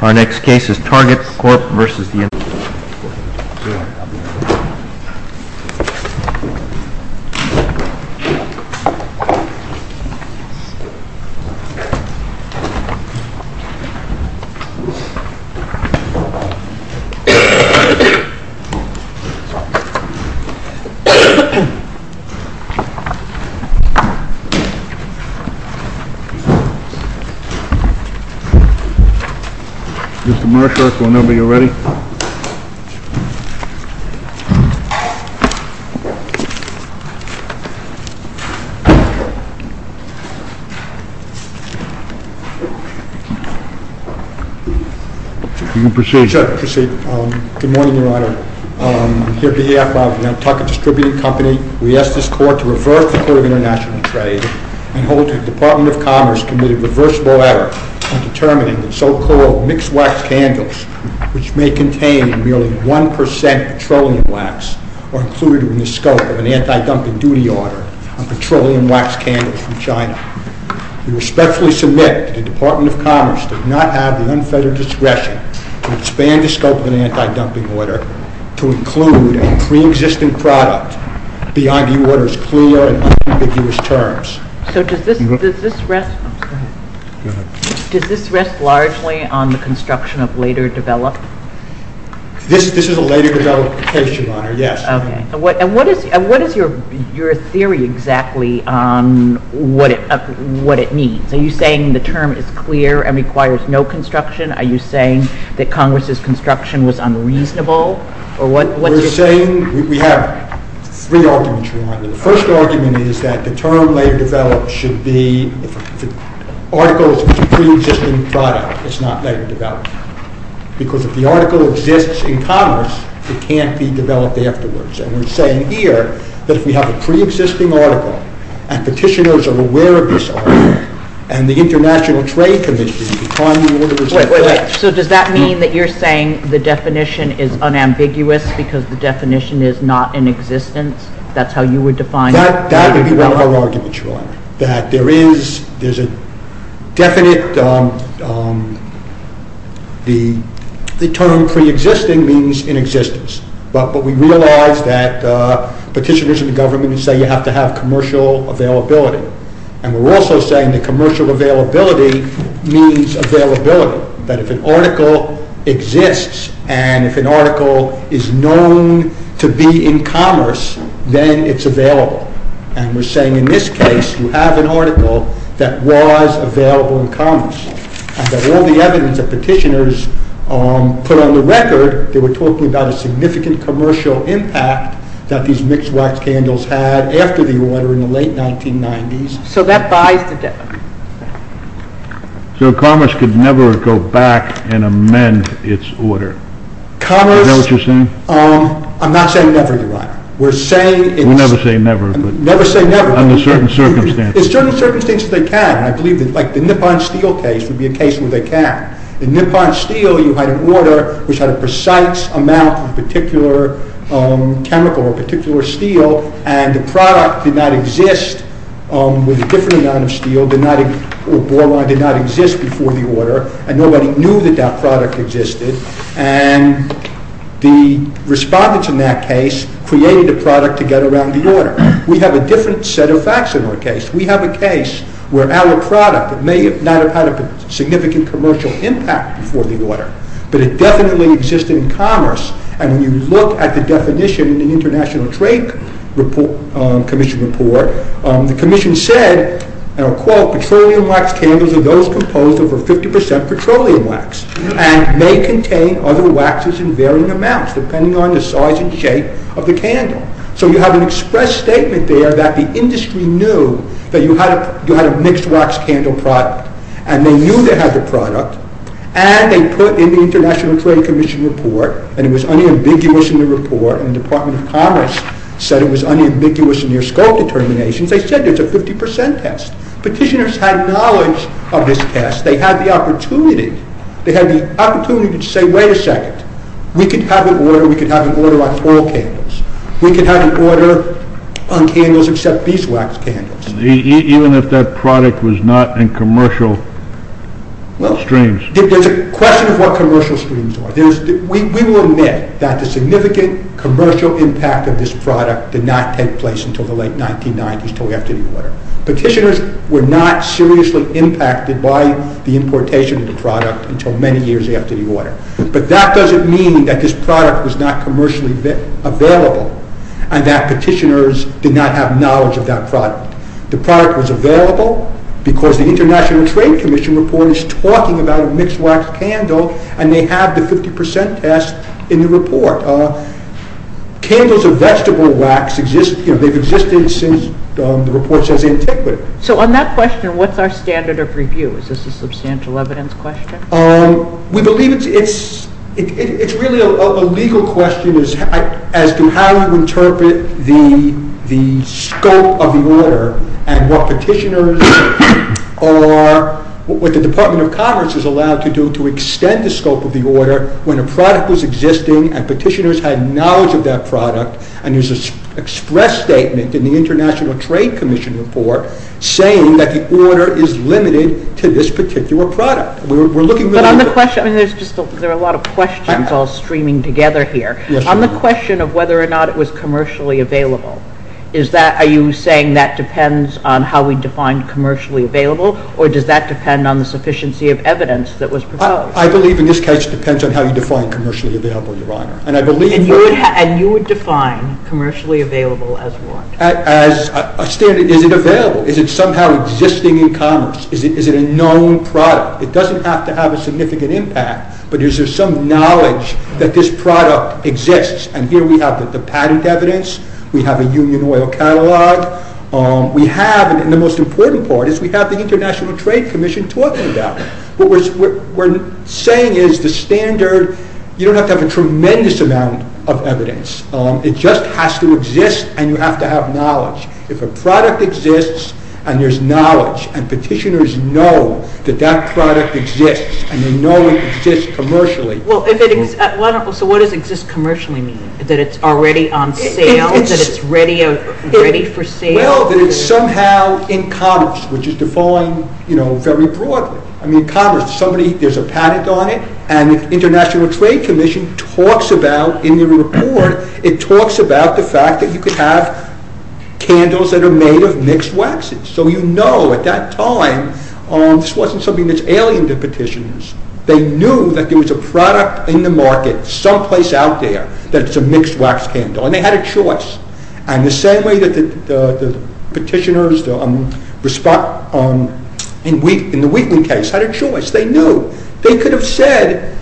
Our next case is Target Corp v. United States Mr. Marshark, whenever you're ready. You can proceed. Good morning, your honor. On behalf of Nantucket Distributing Company, we ask this court to reverse the court of international trade and hold that the Department of Commerce committed a reversible error in determining the so-called mixed wax candles, which may contain merely 1% petroleum wax, are included in the scope of an anti-dumping duty order on petroleum wax candles from China. We respectfully submit that the Department of Commerce did not have the unfettered discretion to expand the scope of an anti-dumping order to include a pre-existing product of the argue order's clear and unambiguous terms. So does this rest largely on the construction of later development? This is a later development case, your honor, yes. And what is your theory exactly on what it means? Are you saying the term is clear and requires no construction? Are you saying that Congress's construction was unreasonable? We have three arguments, your honor. The first argument is that the term later development should be if the article is a pre-existing product, it's not later development. Because if the article exists in Congress, it can't be developed afterwards. And we're saying here that if we have a pre-existing article and petitioners are aware of this article and the International Trade Commission can find the order as it is. So does that mean that you're saying the definition is unambiguous because the definition is not in existence? That's how you would define it? That would be one of our arguments, your honor. That there is a definite, the term pre-existing means in existence. But we realize that petitioners in the government say you have to have commercial availability. And we're also saying that commercial availability means availability. That if an article exists and if an article is known to be in commerce, then it's available. And we're saying in this case, you have an article that was available in commerce. And that all the evidence that petitioners put on the record, they were talking about a significant commercial impact that these mixed wax candles had after the order in the late 1990s. So that buys the debt. So commerce could never go back and amend its order. Commerce... Is that what you're saying? I'm not saying never, your honor. We're saying it's... We never say never. Never say never. Under certain circumstances. Under certain circumstances they can. I believe that like the Nippon Steel case would be a case where they can. In Nippon Steel you had an order which had a precise amount of a particular chemical or a particular steel. And the product did not exist with a different amount of steel. Or boron did not exist before the order. And nobody knew that that product existed. And the respondents in that case created a product to get around the order. We have a different set of facts in our case. We have a case where our product may not have had a significant commercial impact before the order. But it definitely existed in commerce. And when you look at the definition in the International Trade Commission report, the commission said, and I'll quote, petroleum wax candles are those composed of over 50% petroleum wax. And may contain other waxes in varying amounts depending on the size and shape of the candle. So you have an express statement there that the industry knew that you had a mixed wax candle product. And they knew they had the product. And they put in the International Trade Commission report, and it was unambiguous in the report, and the Department of Commerce said it was unambiguous in their scope determinations, they said it's a 50% test. Petitioners had knowledge of this test. They had the opportunity. They had the opportunity to say, wait a second. We could have an order. We could have an order on all candles. We could have an order on candles except these wax candles. Even if that product was not in commercial streams? There's a question of what commercial streams are. We will admit that the significant commercial impact of this product did not take place until the late 1990s until after the order. Petitioners were not seriously impacted by the importation of the product until many years after the order. But that doesn't mean that this product was not commercially available and that petitioners did not have knowledge of that product. The product was available because the International Trade Commission report is talking about a mixed wax candle and they have the 50% test in the report. Candles of vegetable wax, they've existed since the report says antiquity. So on that question, what's our standard of review? Is this a substantial evidence question? We believe it's really a legal question as to how you interpret the scope of the order and what the Department of Commerce is allowed to do to extend the scope of the order when a product was existing and petitioners had knowledge of that product and there's an express statement in the International Trade Commission report saying that the order is limited to this particular product. There are a lot of questions all streaming together here. On the question of whether or not it was commercially available, are you saying that depends on how we define commercially available or does that depend on the sufficiency of evidence that was proposed? I believe in this case it depends on how you define commercially available, Your Honor. And you would define commercially available as what? Is it available? Is it somehow existing in commerce? Is it a known product? It doesn't have to have a significant impact, but is there some knowledge that this product exists? And here we have the patent evidence. We have a Union Oil Catalog. We have, and the most important part is we have the International Trade Commission talking about it. What we're saying is the standard, you don't have to have a tremendous amount of evidence. It just has to exist and you have to have knowledge. If a product exists and there's knowledge and petitioners know that that product exists and they know it exists commercially. Well, so what does exist commercially mean? That it's already on sale? That it's ready for sale? Well, that it's somehow in commerce, which is defined, you know, very broadly. I mean, commerce, somebody, there's a patent on it and the International Trade Commission talks about, in the report, it talks about the fact that you could have candles that are made of mixed waxes. So you know, at that time, this wasn't something that's alien to petitioners. They knew that there was a product in the market, someplace out there, that it's a mixed wax candle and they had a choice. And the same way that the petitioners in the Wheatley case had a choice, they knew, they could have said,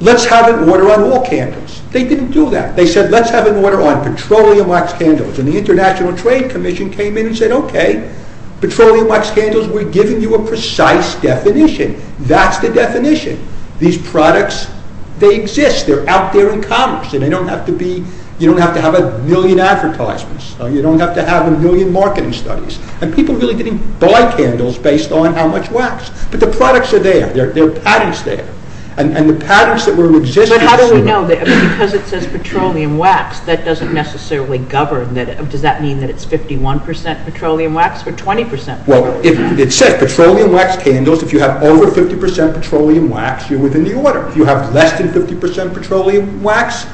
let's have it water on all candles. They didn't do that. They said, let's have it water on petroleum wax candles. And the International Trade Commission came in and said, okay, petroleum wax candles, we're giving you a precise definition. That's the definition. These products, they exist. They're out there in commerce and they don't have to be, you don't have to have a million advertisements. You don't have to have a million marketing studies. And people really didn't buy candles based on how much wax. But the products are there. There are patents there. And the patents that were existing... Because it says petroleum wax, that doesn't necessarily govern it. Does that mean that it's 51% petroleum wax or 20% petroleum wax? It says petroleum wax candles. If you have over 50% petroleum wax, you're within the order. If you have less than 50% petroleum wax,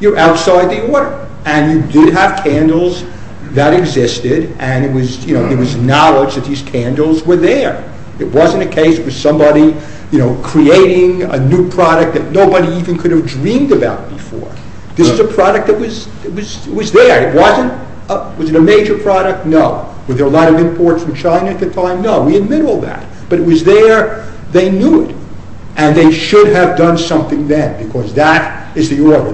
you're outside the order. And you did have candles that existed. And it was knowledge that these candles were there. It wasn't a case of somebody creating a new product that nobody even could have dreamed about before. This is a product that was there. Was it a major product? No. Were there a lot of imports from China at the time? No. We admit all that. But it was there, they knew it. And they should have done something then. Because that is the order.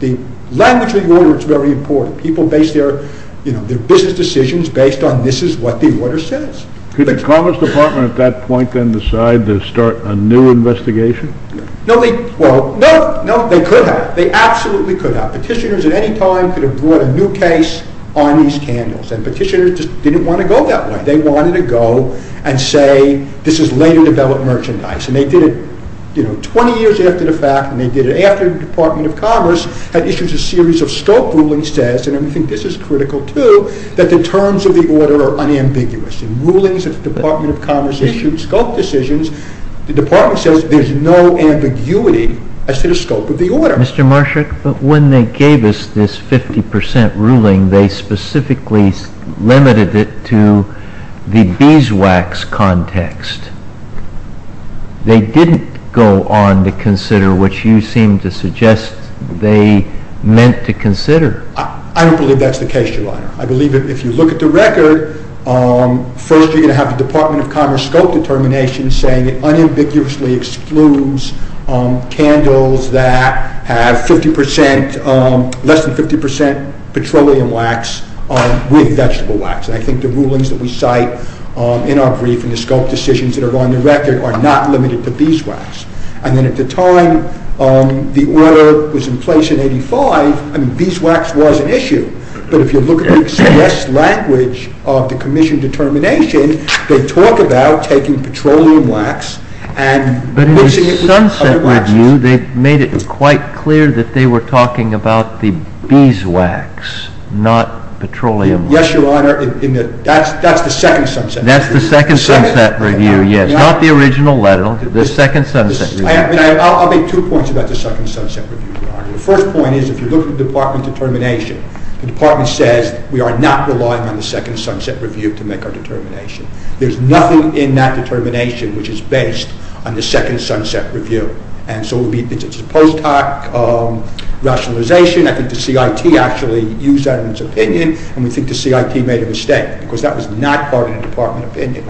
The language of the order is very important. People base their business decisions based on this is what the order says. Could the Commerce Department at that point then decide to start a new investigation? No, they could have. They absolutely could have. Petitioners at any time could have brought a new case on these candles. And petitioners just didn't want to go that way. They wanted to go and say this is later developed merchandise. And they did it 20 years after the fact. And they did it after the Department of Commerce had issued a series of scope rulings that says, and I think this is critical too, that the terms of the order are unambiguous. In rulings that the Department of Commerce issued, scope decisions, the Department says there's no ambiguity as to the scope of the order. Mr. Marshak, but when they gave us this 50% ruling, they specifically limited it to the beeswax context. They didn't go on to consider what you seem to suggest they meant to consider. I don't believe that's the case, Your Honor. I believe that if you look at the record, first you're going to have the Department of Commerce scope determination saying it unambiguously excludes candles that have less than 50% petroleum wax with vegetable wax. And I think the rulings that we cite in our brief and the scope decisions that are on the record are not limited to beeswax. And then at the time the order was in place in 85, beeswax was an issue. But if you look at the express language of the commission determination, they talk about taking petroleum wax and mixing it with other waxes. But in the Sunset Review, they made it quite clear that they were talking about the beeswax, not petroleum wax. Yes, Your Honor. That's the second Sunset Review. That's the second Sunset Review, yes. Not the original letter, the second Sunset Review. I'll make two points about the second Sunset Review, Your Honor. The first point is if you look at the department determination, the department says we are not relying on the second Sunset Review to make our determination. There's nothing in that determination which is based on the second Sunset Review. And so it's a post hoc rationalization. I think the CIT actually used that in its opinion. And we think the CIT made a mistake because that was not part of the department opinion.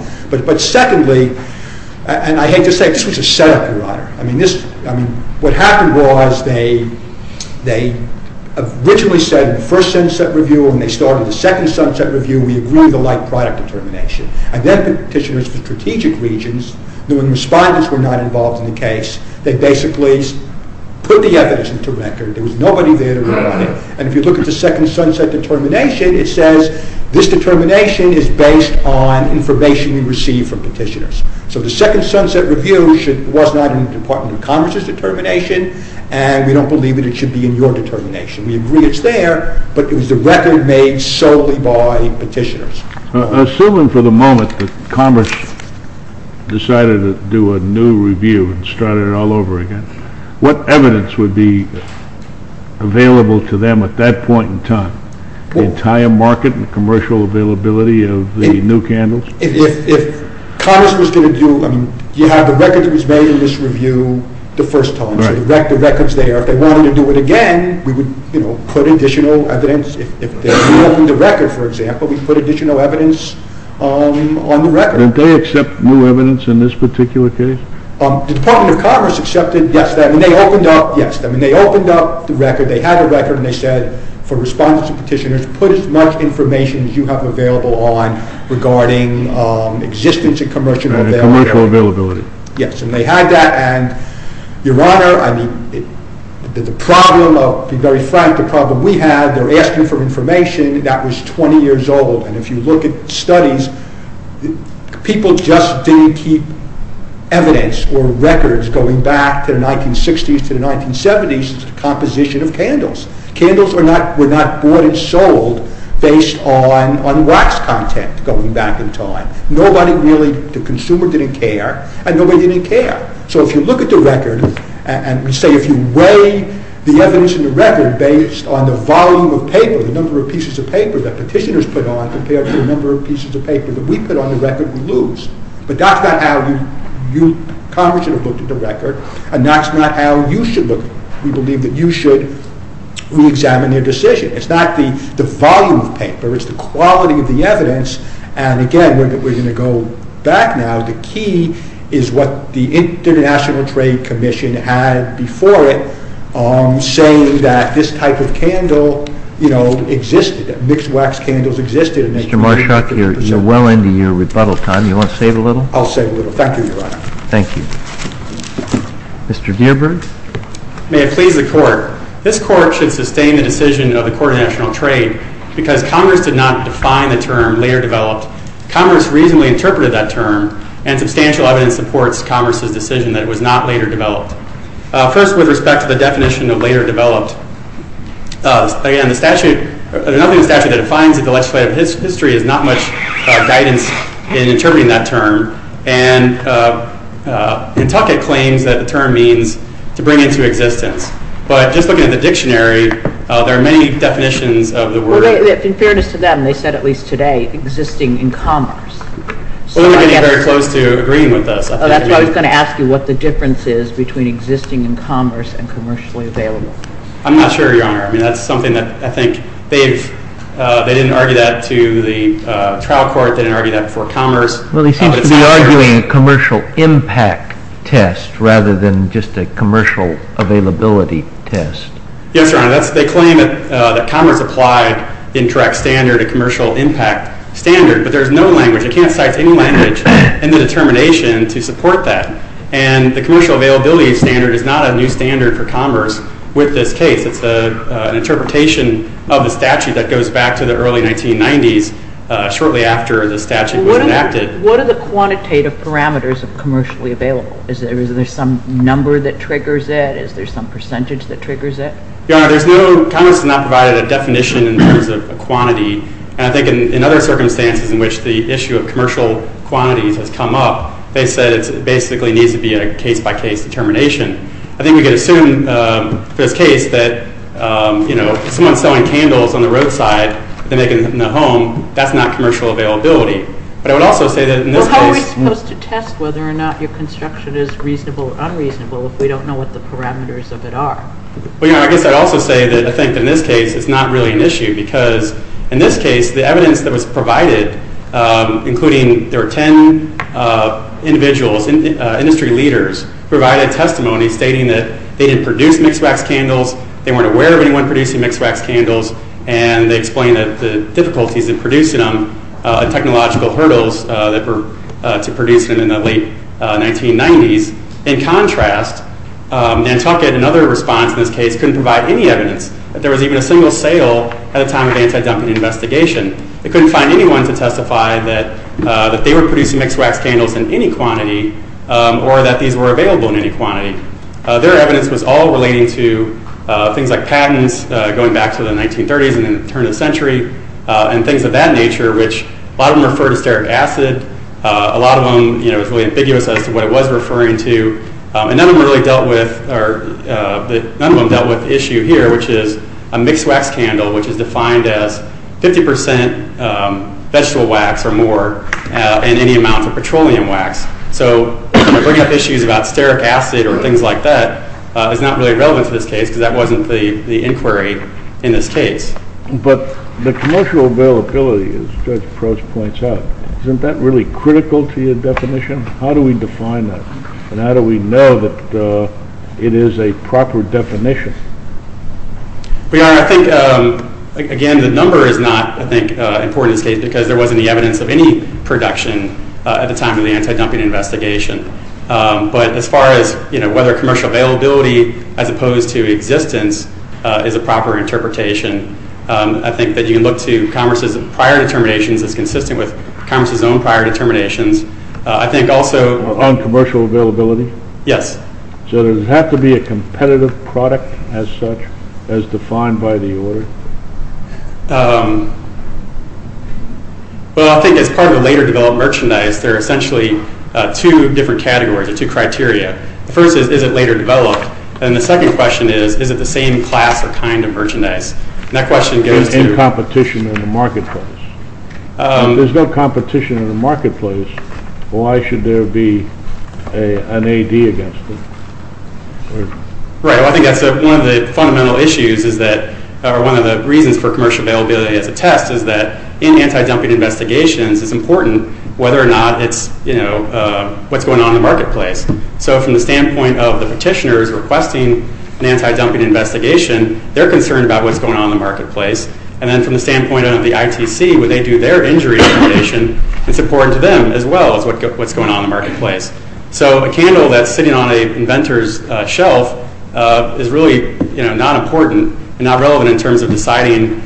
What happened was they originally said in the first Sunset Review, when they started the second Sunset Review, we agree with the like product determination. And then petitioners for strategic regions, when the respondents were not involved in the case, they basically put the evidence into record. There was nobody there to rely on it. And if you look at the second Sunset Determination, it says this determination is based on information we received from petitioners. So the second Sunset Review was not in the Department of Commerce's determination, and we don't believe it should be in your determination. We agree it's there, but it was a record made solely by petitioners. Assuming for the moment that Commerce decided to do a new review and started it all over again, what evidence would be available to them at that point in time? The entire market and commercial availability of the new candles? If Commerce was going to do, you have the record that was made in this review the first time, so the record's there. If they wanted to do it again, we would put additional evidence. If they reopened the record, for example, we'd put additional evidence on the record. Did they accept new evidence in this particular case? The Department of Commerce accepted, yes. They opened up, yes. They opened up the record, they had the record, and they said for respondents and petitioners, put as much information as you have available on regarding existence and commercial availability. Yes, and they had that. Your Honor, I mean, the problem, I'll be very frank, the problem we had, they're asking for information that was 20 years old, and if you look at studies, people just didn't keep evidence or records as a composition of candles. Candles were not bought and sold based on wax content going back in time. Nobody really, the consumer didn't care, and nobody didn't care. So if you look at the record and say, if you weigh the evidence in the record based on the volume of paper, the number of pieces of paper that petitioners put on compared to the number of pieces of paper that we put on the record, we lose. But that's not how you, Congress should have looked at the record, and that's not how you should look at it. We believe that you should reexamine your decision. It's not the volume of paper, it's the quality of the evidence, and again, we're going to go back now. The key is what the International Trade Commission had before it, saying that this type of candle, you know, existed, that mixed wax candles existed. Mr. Marshak, you're well into your rebuttal time. You want to say it a little? I'll say it a little. Thank you, Your Honor. Thank you. Mr. Dearberg? May it please the Court. This Court should sustain the decision of the Court of National Trade because Congress did not define the term later developed. Congress reasonably interpreted that term, and substantial evidence supports Congress's decision that it was not later developed. First, with respect to the definition of later developed, again, the statute, there's nothing in the statute that defines it. The legislative history has not much guidance in interpreting that term, and Kentucky claims that the term means to bring into existence, but just looking at the dictionary, there are many definitions of the word. In fairness to them, they said at least today, existing in commerce. They weren't getting very close to agreeing with us. That's why I was going to ask you what the difference is between existing in commerce and commercially available. I'm not sure, Your Honor. I mean, that's something that I think they didn't argue that to the trial court. They didn't argue that before commerce. Well, they seem to be arguing a commercial impact test rather than just a commercial availability test. Yes, Your Honor. They claim that commerce applied the indirect standard, a commercial impact standard, but there's no language. I can't cite any language in the determination to support that, and the commercial availability standard is not a new standard for commerce with this case. It's an interpretation of the statute that goes back to the early 1990s, shortly after the statute was enacted. What are the quantitative parameters of commercially available? Is there some number that triggers it? Is there some percentage that triggers it? Your Honor, commerce has not provided a definition in terms of quantity, and I think in other circumstances in which the issue of commercial quantities has come up, they said it basically needs to be a case-by-case determination. I think we can assume for this case that someone selling candles on the roadside and making them in the home, that's not commercial availability. But I would also say that in this case— Well, how are we supposed to test whether or not your construction is reasonable or unreasonable if we don't know what the parameters of it are? Well, Your Honor, I guess I'd also say that I think in this case it's not really an issue because in this case the evidence that was provided, including there were 10 individuals, industry leaders, provided testimony stating that they didn't produce mixed-wax candles, they weren't aware of anyone producing mixed-wax candles, and they explained the difficulties in producing them, technological hurdles to producing them in the late 1990s. In contrast, Nantucket, in another response in this case, couldn't provide any evidence that there was even a single sale at a time of anti-dumping investigation. They couldn't find anyone to testify that they were producing mixed-wax candles in any quantity or that these were available in any quantity. Their evidence was all relating to things like patents going back to the 1930s and then the turn of the century and things of that nature, which a lot of them refer to steric acid. A lot of them is really ambiguous as to what it was referring to. And none of them really dealt with—or none of them dealt with the issue here, which is a mixed-wax candle, which is defined as 50% vegetable wax or more and any amount of petroleum wax. So bringing up issues about steric acid or things like that is not really relevant to this case because that wasn't the inquiry in this case. But the commercial availability, as Judge Proch points out, isn't that really critical to your definition? How do we define that, and how do we know that it is a proper definition? Your Honor, I think, again, the number is not, I think, important in this case because there wasn't any evidence of any production at the time of the anti-dumping investigation. But as far as whether commercial availability as opposed to existence is a proper interpretation, I think that you can look to Congress's prior determinations as consistent with Congress's own prior determinations. I think also— On commercial availability? Yes. So does it have to be a competitive product as such, as defined by the order? Well, I think as part of a later developed merchandise, there are essentially two different categories or two criteria. The first is, is it later developed? And the second question is, is it the same class or kind of merchandise? And that question goes to— There's no competition in the marketplace. If there's no competition in the marketplace, why should there be an AD against it? Right. Well, I think that's one of the fundamental issues is that— or one of the reasons for commercial availability as a test is that in anti-dumping investigations, it's important whether or not it's— what's going on in the marketplace. So from the standpoint of the petitioners requesting an anti-dumping investigation, they're concerned about what's going on in the marketplace. And then from the standpoint of the ITC, when they do their injury determination, it's important to them as well as what's going on in the marketplace. So a candle that's sitting on an inventor's shelf is really not important, not relevant in terms of deciding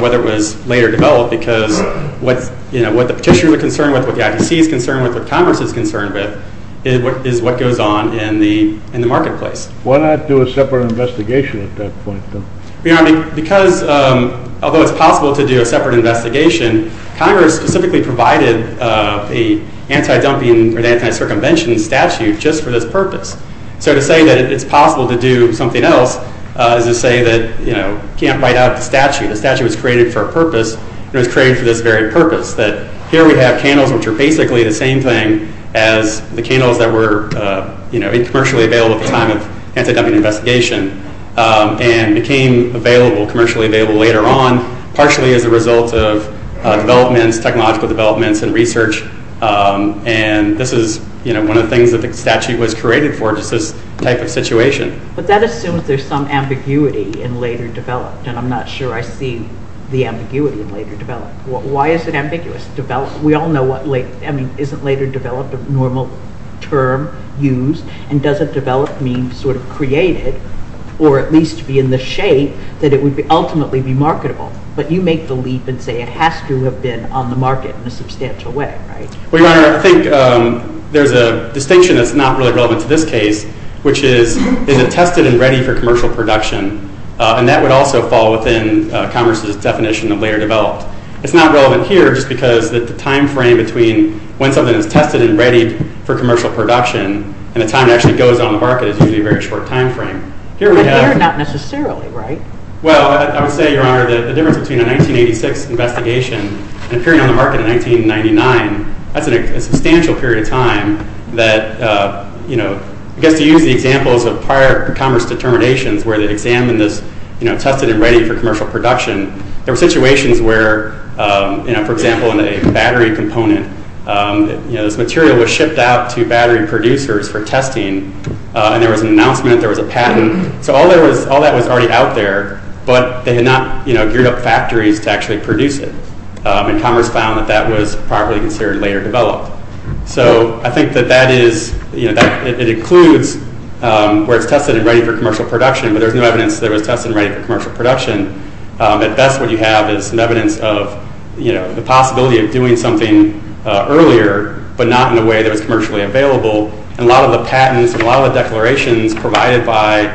whether it was later developed because what the petitioner is concerned with, what the ITC is concerned with, what Congress is concerned with is what goes on in the marketplace. Why not do a separate investigation at that point? Because although it's possible to do a separate investigation, Congress specifically provided an anti-dumping or anti-circumvention statute just for this purpose. So to say that it's possible to do something else is to say that you can't write out the statute. The statute was created for a purpose, and it was created for this very purpose, that here we have candles which are basically the same thing as the candles that were commercially available at the time of anti-dumping investigation and became commercially available later on, partially as a result of technological developments and research. And this is one of the things that the statute was created for, just this type of situation. But that assumes there's some ambiguity in later developed, and I'm not sure I see the ambiguity in later developed. Why is it ambiguous? We all know what isn't later developed, a normal term used, and doesn't develop mean sort of created, or at least be in the shape that it would ultimately be marketable. But you make the leap and say it has to have been on the market in a substantial way, right? Well, Your Honor, I think there's a distinction that's not really relevant to this case, which is, is it tested and ready for commercial production? And that would also fall within Congress's definition of later developed. It's not relevant here just because the time frame between when something is tested and ready for commercial production and the time it actually goes on the market is usually a very short time frame. But later, not necessarily, right? Well, I would say, Your Honor, the difference between a 1986 investigation and appearing on the market in 1999, that's a substantial period of time that, you know, I guess to use the examples of prior Congress determinations where they examined this, you know, tested and ready for commercial production, there were situations where, you know, for example, in a battery component, you know, this material was shipped out to battery producers for testing, and there was an announcement, there was a patent. So all that was already out there, but they had not, you know, geared up factories to actually produce it. And Congress found that that was properly considered later developed. So I think that that is, you know, it includes where it's tested and ready for commercial production, but there's no evidence that it was tested and ready for commercial production. At best, what you have is some evidence of, you know, the possibility of doing something earlier, but not in a way that was commercially available. And a lot of the patents and a lot of the declarations provided by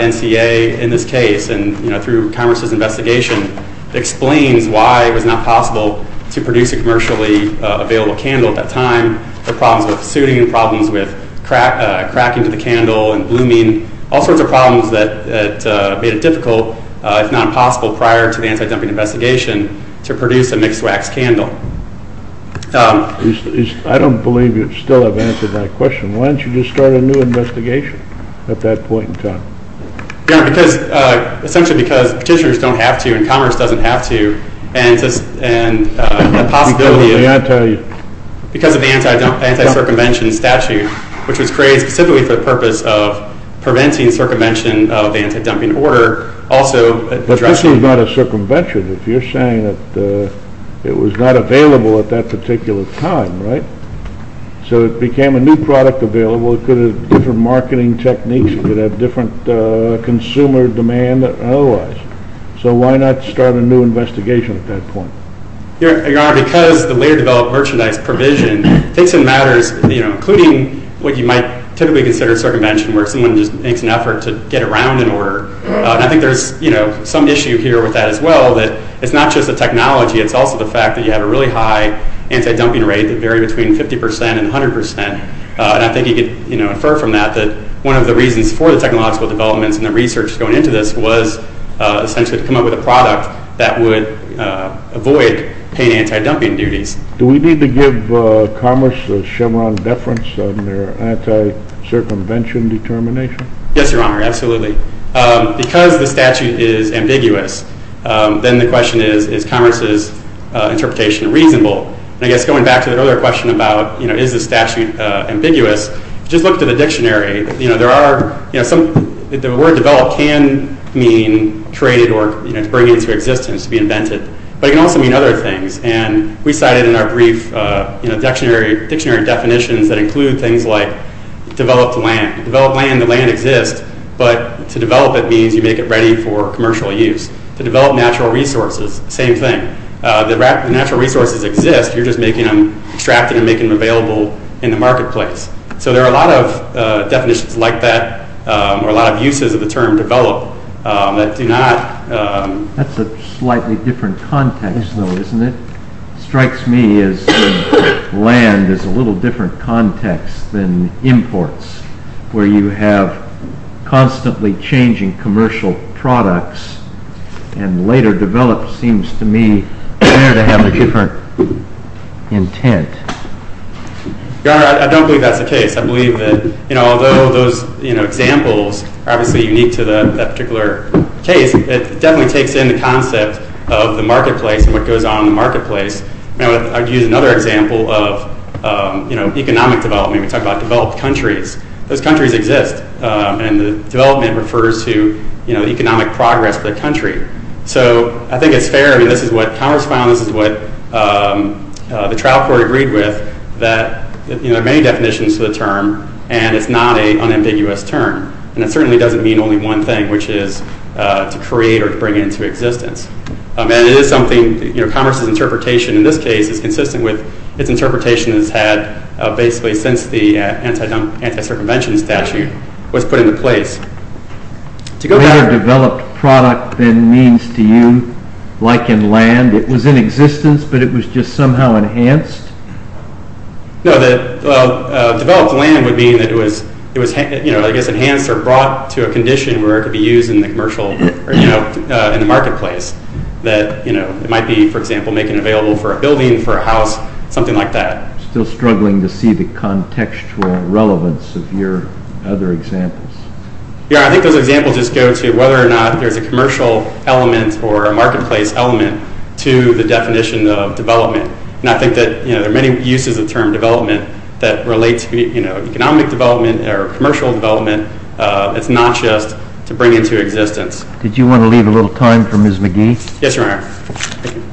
NCA in this case and, you know, through Congress's investigation, explains why it was not possible to produce a commercially available candle at that time, the problems with suiting, the problems with cracking to the candle and blooming, all sorts of problems that made it difficult, if not impossible, prior to the anti-dumping investigation to produce a mixed wax candle. I don't believe you still have answered my question. Why don't you just start a new investigation at that point in time? Because, essentially because petitioners don't have to and Congress doesn't have to and the possibility of... Because of the anti-circumvention statute, which was created specifically for the purpose of preventing circumvention of the anti-dumping order, also... But this was not a circumvention. If you're saying that it was not available at that particular time, right? So it became a new product available. It could have different marketing techniques. It could have different consumer demand and otherwise. So why not start a new investigation at that point? Your Honor, because the way to develop merchandise provision takes in matters, you know, including what you might typically consider circumvention, where someone just makes an effort to get around an order. And I think there's, you know, some issue here with that as well, that it's not just the technology, it's also the fact that you have a really high anti-dumping rate that vary between 50% and 100%. And I think you could, you know, infer from that that one of the reasons for the technological developments and the research going into this was essentially to come up with a product that would avoid paying anti-dumping duties. Do we need to give Commerce the Chevron deference on their anti-circumvention determination? Yes, Your Honor, absolutely. Because the statute is ambiguous, then the question is, is Commerce's interpretation reasonable? And I guess going back to that other question about, you know, is the statute ambiguous, just look to the dictionary. You know, there are, you know, some, the word develop can mean created or, you know, to bring into existence, to be invented. But it can also mean other things. And we cited in our brief, you know, dictionary definitions that include things like developed land. Developed land, the land exists, but to develop it means you make it ready for commercial use. To develop natural resources, same thing. The natural resources exist, you're just making them, extracting and making them available in the marketplace. So there are a lot of definitions like that or a lot of uses of the term develop that do not... That's a slightly different context though, isn't it? Strikes me as land is a little different context than imports, where you have constantly changing commercial products and later developed seems to me there to have a different intent. I don't believe that's the case. I believe that, you know, although those, you know, examples are obviously unique to that particular case, it definitely takes in the concept of the marketplace and what goes on in the marketplace. I'd use another example of, you know, economic development. We talk about developed countries. Those countries exist and the development refers to, you know, economic progress for the country. So I think it's fair, I mean, this is what Congress found, this is what the trial court agreed with, that, you know, there are many definitions to the term and it's not an unambiguous term. And it certainly doesn't mean only one thing, which is to create or to bring it into existence. And it is something, you know, Congress's interpretation in this case is consistent with its interpretation that it's had basically since the anti-circumvention statute was put into place. To go back... Better developed product than means to you, like in land, it was in existence but it was just somehow enhanced? No, that, well, developed land would mean that it was, you know, I guess enhanced or brought to a condition where it could be used in the commercial, you know, in the marketplace. That, you know, it might be, for example, making it available for a building, for a house, something like that. Still struggling to see the contextual relevance of your other examples. Yeah, I think those examples just go to whether or not there's a commercial element or a marketplace element to the definition of development. And I think that, you know, there are many uses of the term development that relate to, you know, economic development or commercial development. It's not just to bring into existence. Did you want to leave a little time for Ms. McGee? Yes, Your Honor.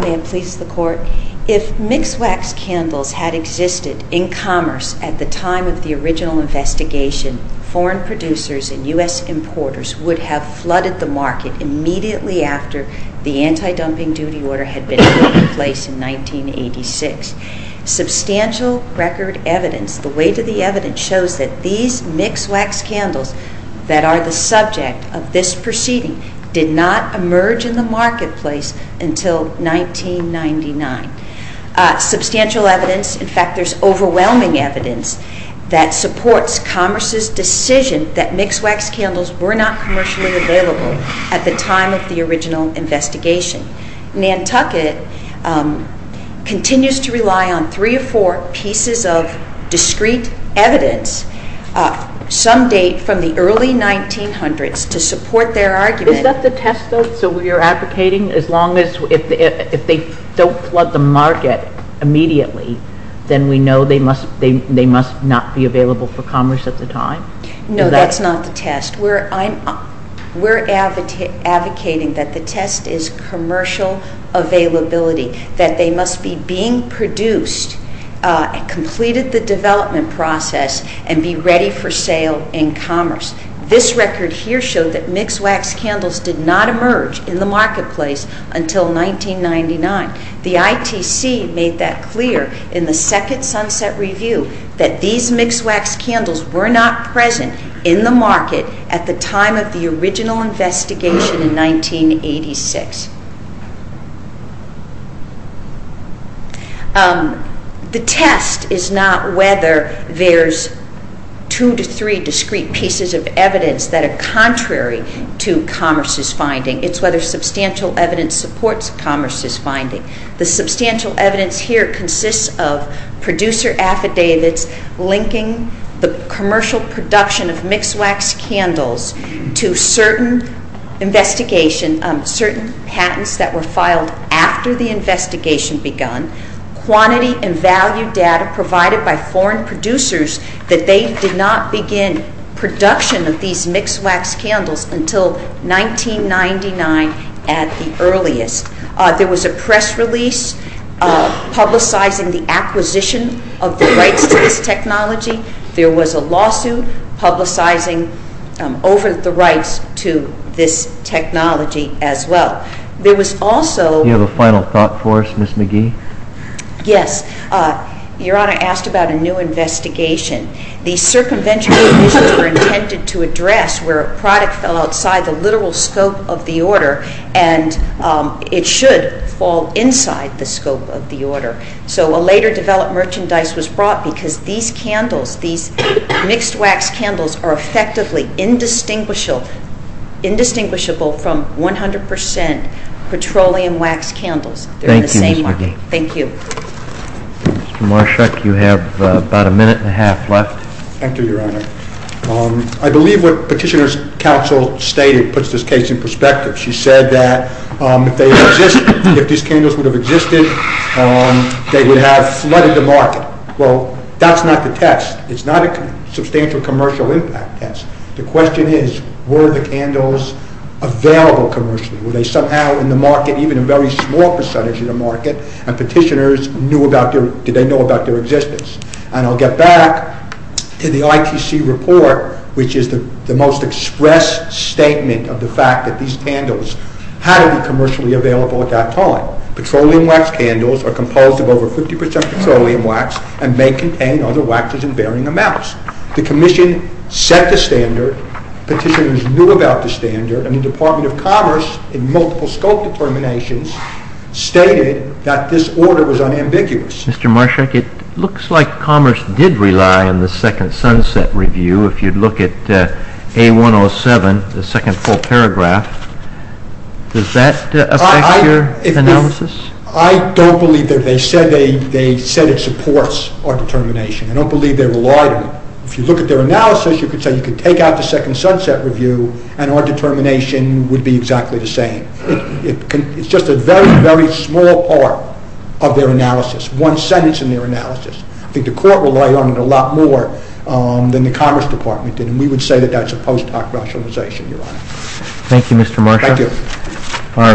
May it please the Court? If mixed wax candles had existed in commerce at the time of the original investigation, foreign producers and U.S. importers would have flooded the market immediately after the anti-dumping duty order had been put in place in 1986. Substantial record evidence, the weight of the evidence, shows that these mixed wax candles that are the subject of this proceeding did not emerge in the marketplace until 1999. Substantial evidence, in fact, there's overwhelming evidence that supports commerce's decision that mixed wax candles were not commercially available at the time of the original investigation. Nantucket continues to rely on three or four pieces of discrete evidence, some date from the early 1900s, to support their argument. Is that the test, though, so we are advocating as long as, if they don't flood the market immediately, then we know they must not be available for commerce at the time? No, that's not the test. We're advocating that the test is commercial availability, that they must be being produced, completed the development process, and be ready for sale in commerce. This record here showed that mixed wax candles did not emerge in the marketplace until 1999. The ITC made that clear in the second Sunset Review that these mixed wax candles were not present in the market at the time of the original investigation in 1986. The test is not whether there's two to three discrete pieces of evidence that are contrary to commerce's finding. The substantial evidence here consists of producer affidavits linking the commercial production of mixed wax candles to certain investigation, certain patents that were filed after the investigation begun, quantity and value data provided by foreign producers that they did not begin production of these mixed wax candles until 1999 at the earliest. There was a press release publicizing the acquisition of the rights to this technology. There was a lawsuit publicizing over the rights to this technology as well. There was also... Do you have a final thought for us, Ms. McGee? Yes. Your Honor asked about a new investigation. The circumvention was intended to address where a product fell outside the literal scope of the order and it should fall inside the scope of the order. So a later developed merchandise was brought because these candles, these mixed wax candles are effectively indistinguishable from 100% petroleum wax candles. They're in the same market. Thank you, Ms. McGee. Thank you. Mr. Marshak, you have about a minute and a half left. Thank you, Your Honor. I believe what Petitioner's counsel stated puts this case in perspective. She said that if these candles would have existed, they would have flooded the market. Well, that's not the test. It's not a substantial commercial impact test. The question is, were the candles available commercially? Were they somehow in the market, even a very small percentage in the market, and Petitioner's knew about their... did they know about their existence? And I'll get back to the ITC report, which is the most express statement of the fact that these candles had to be commercially available at that time. Petroleum wax candles are composed of over 50% petroleum wax and may contain other waxes in varying amounts. The Commission set the standard, Petitioner's knew about the standard, and the Department of Commerce, in multiple scope determinations, stated that this order was unambiguous. Mr. Marshak, it looks like Commerce did rely on the Second Sunset Review. If you look at A107, the second full paragraph, does that affect your analysis? I don't believe that. They said it supports our determination. I don't believe they relied on it. If you look at their analysis, you could say you could take out the Second Sunset Review and our determination would be exactly the same. It's just a very, very small part of their analysis, one sentence in their analysis. I think the court relied on it a lot more than the Commerce Department did, and we would say that that's a post hoc rationalization, Your Honor. Thank you, Mr. Marshak. Thank you.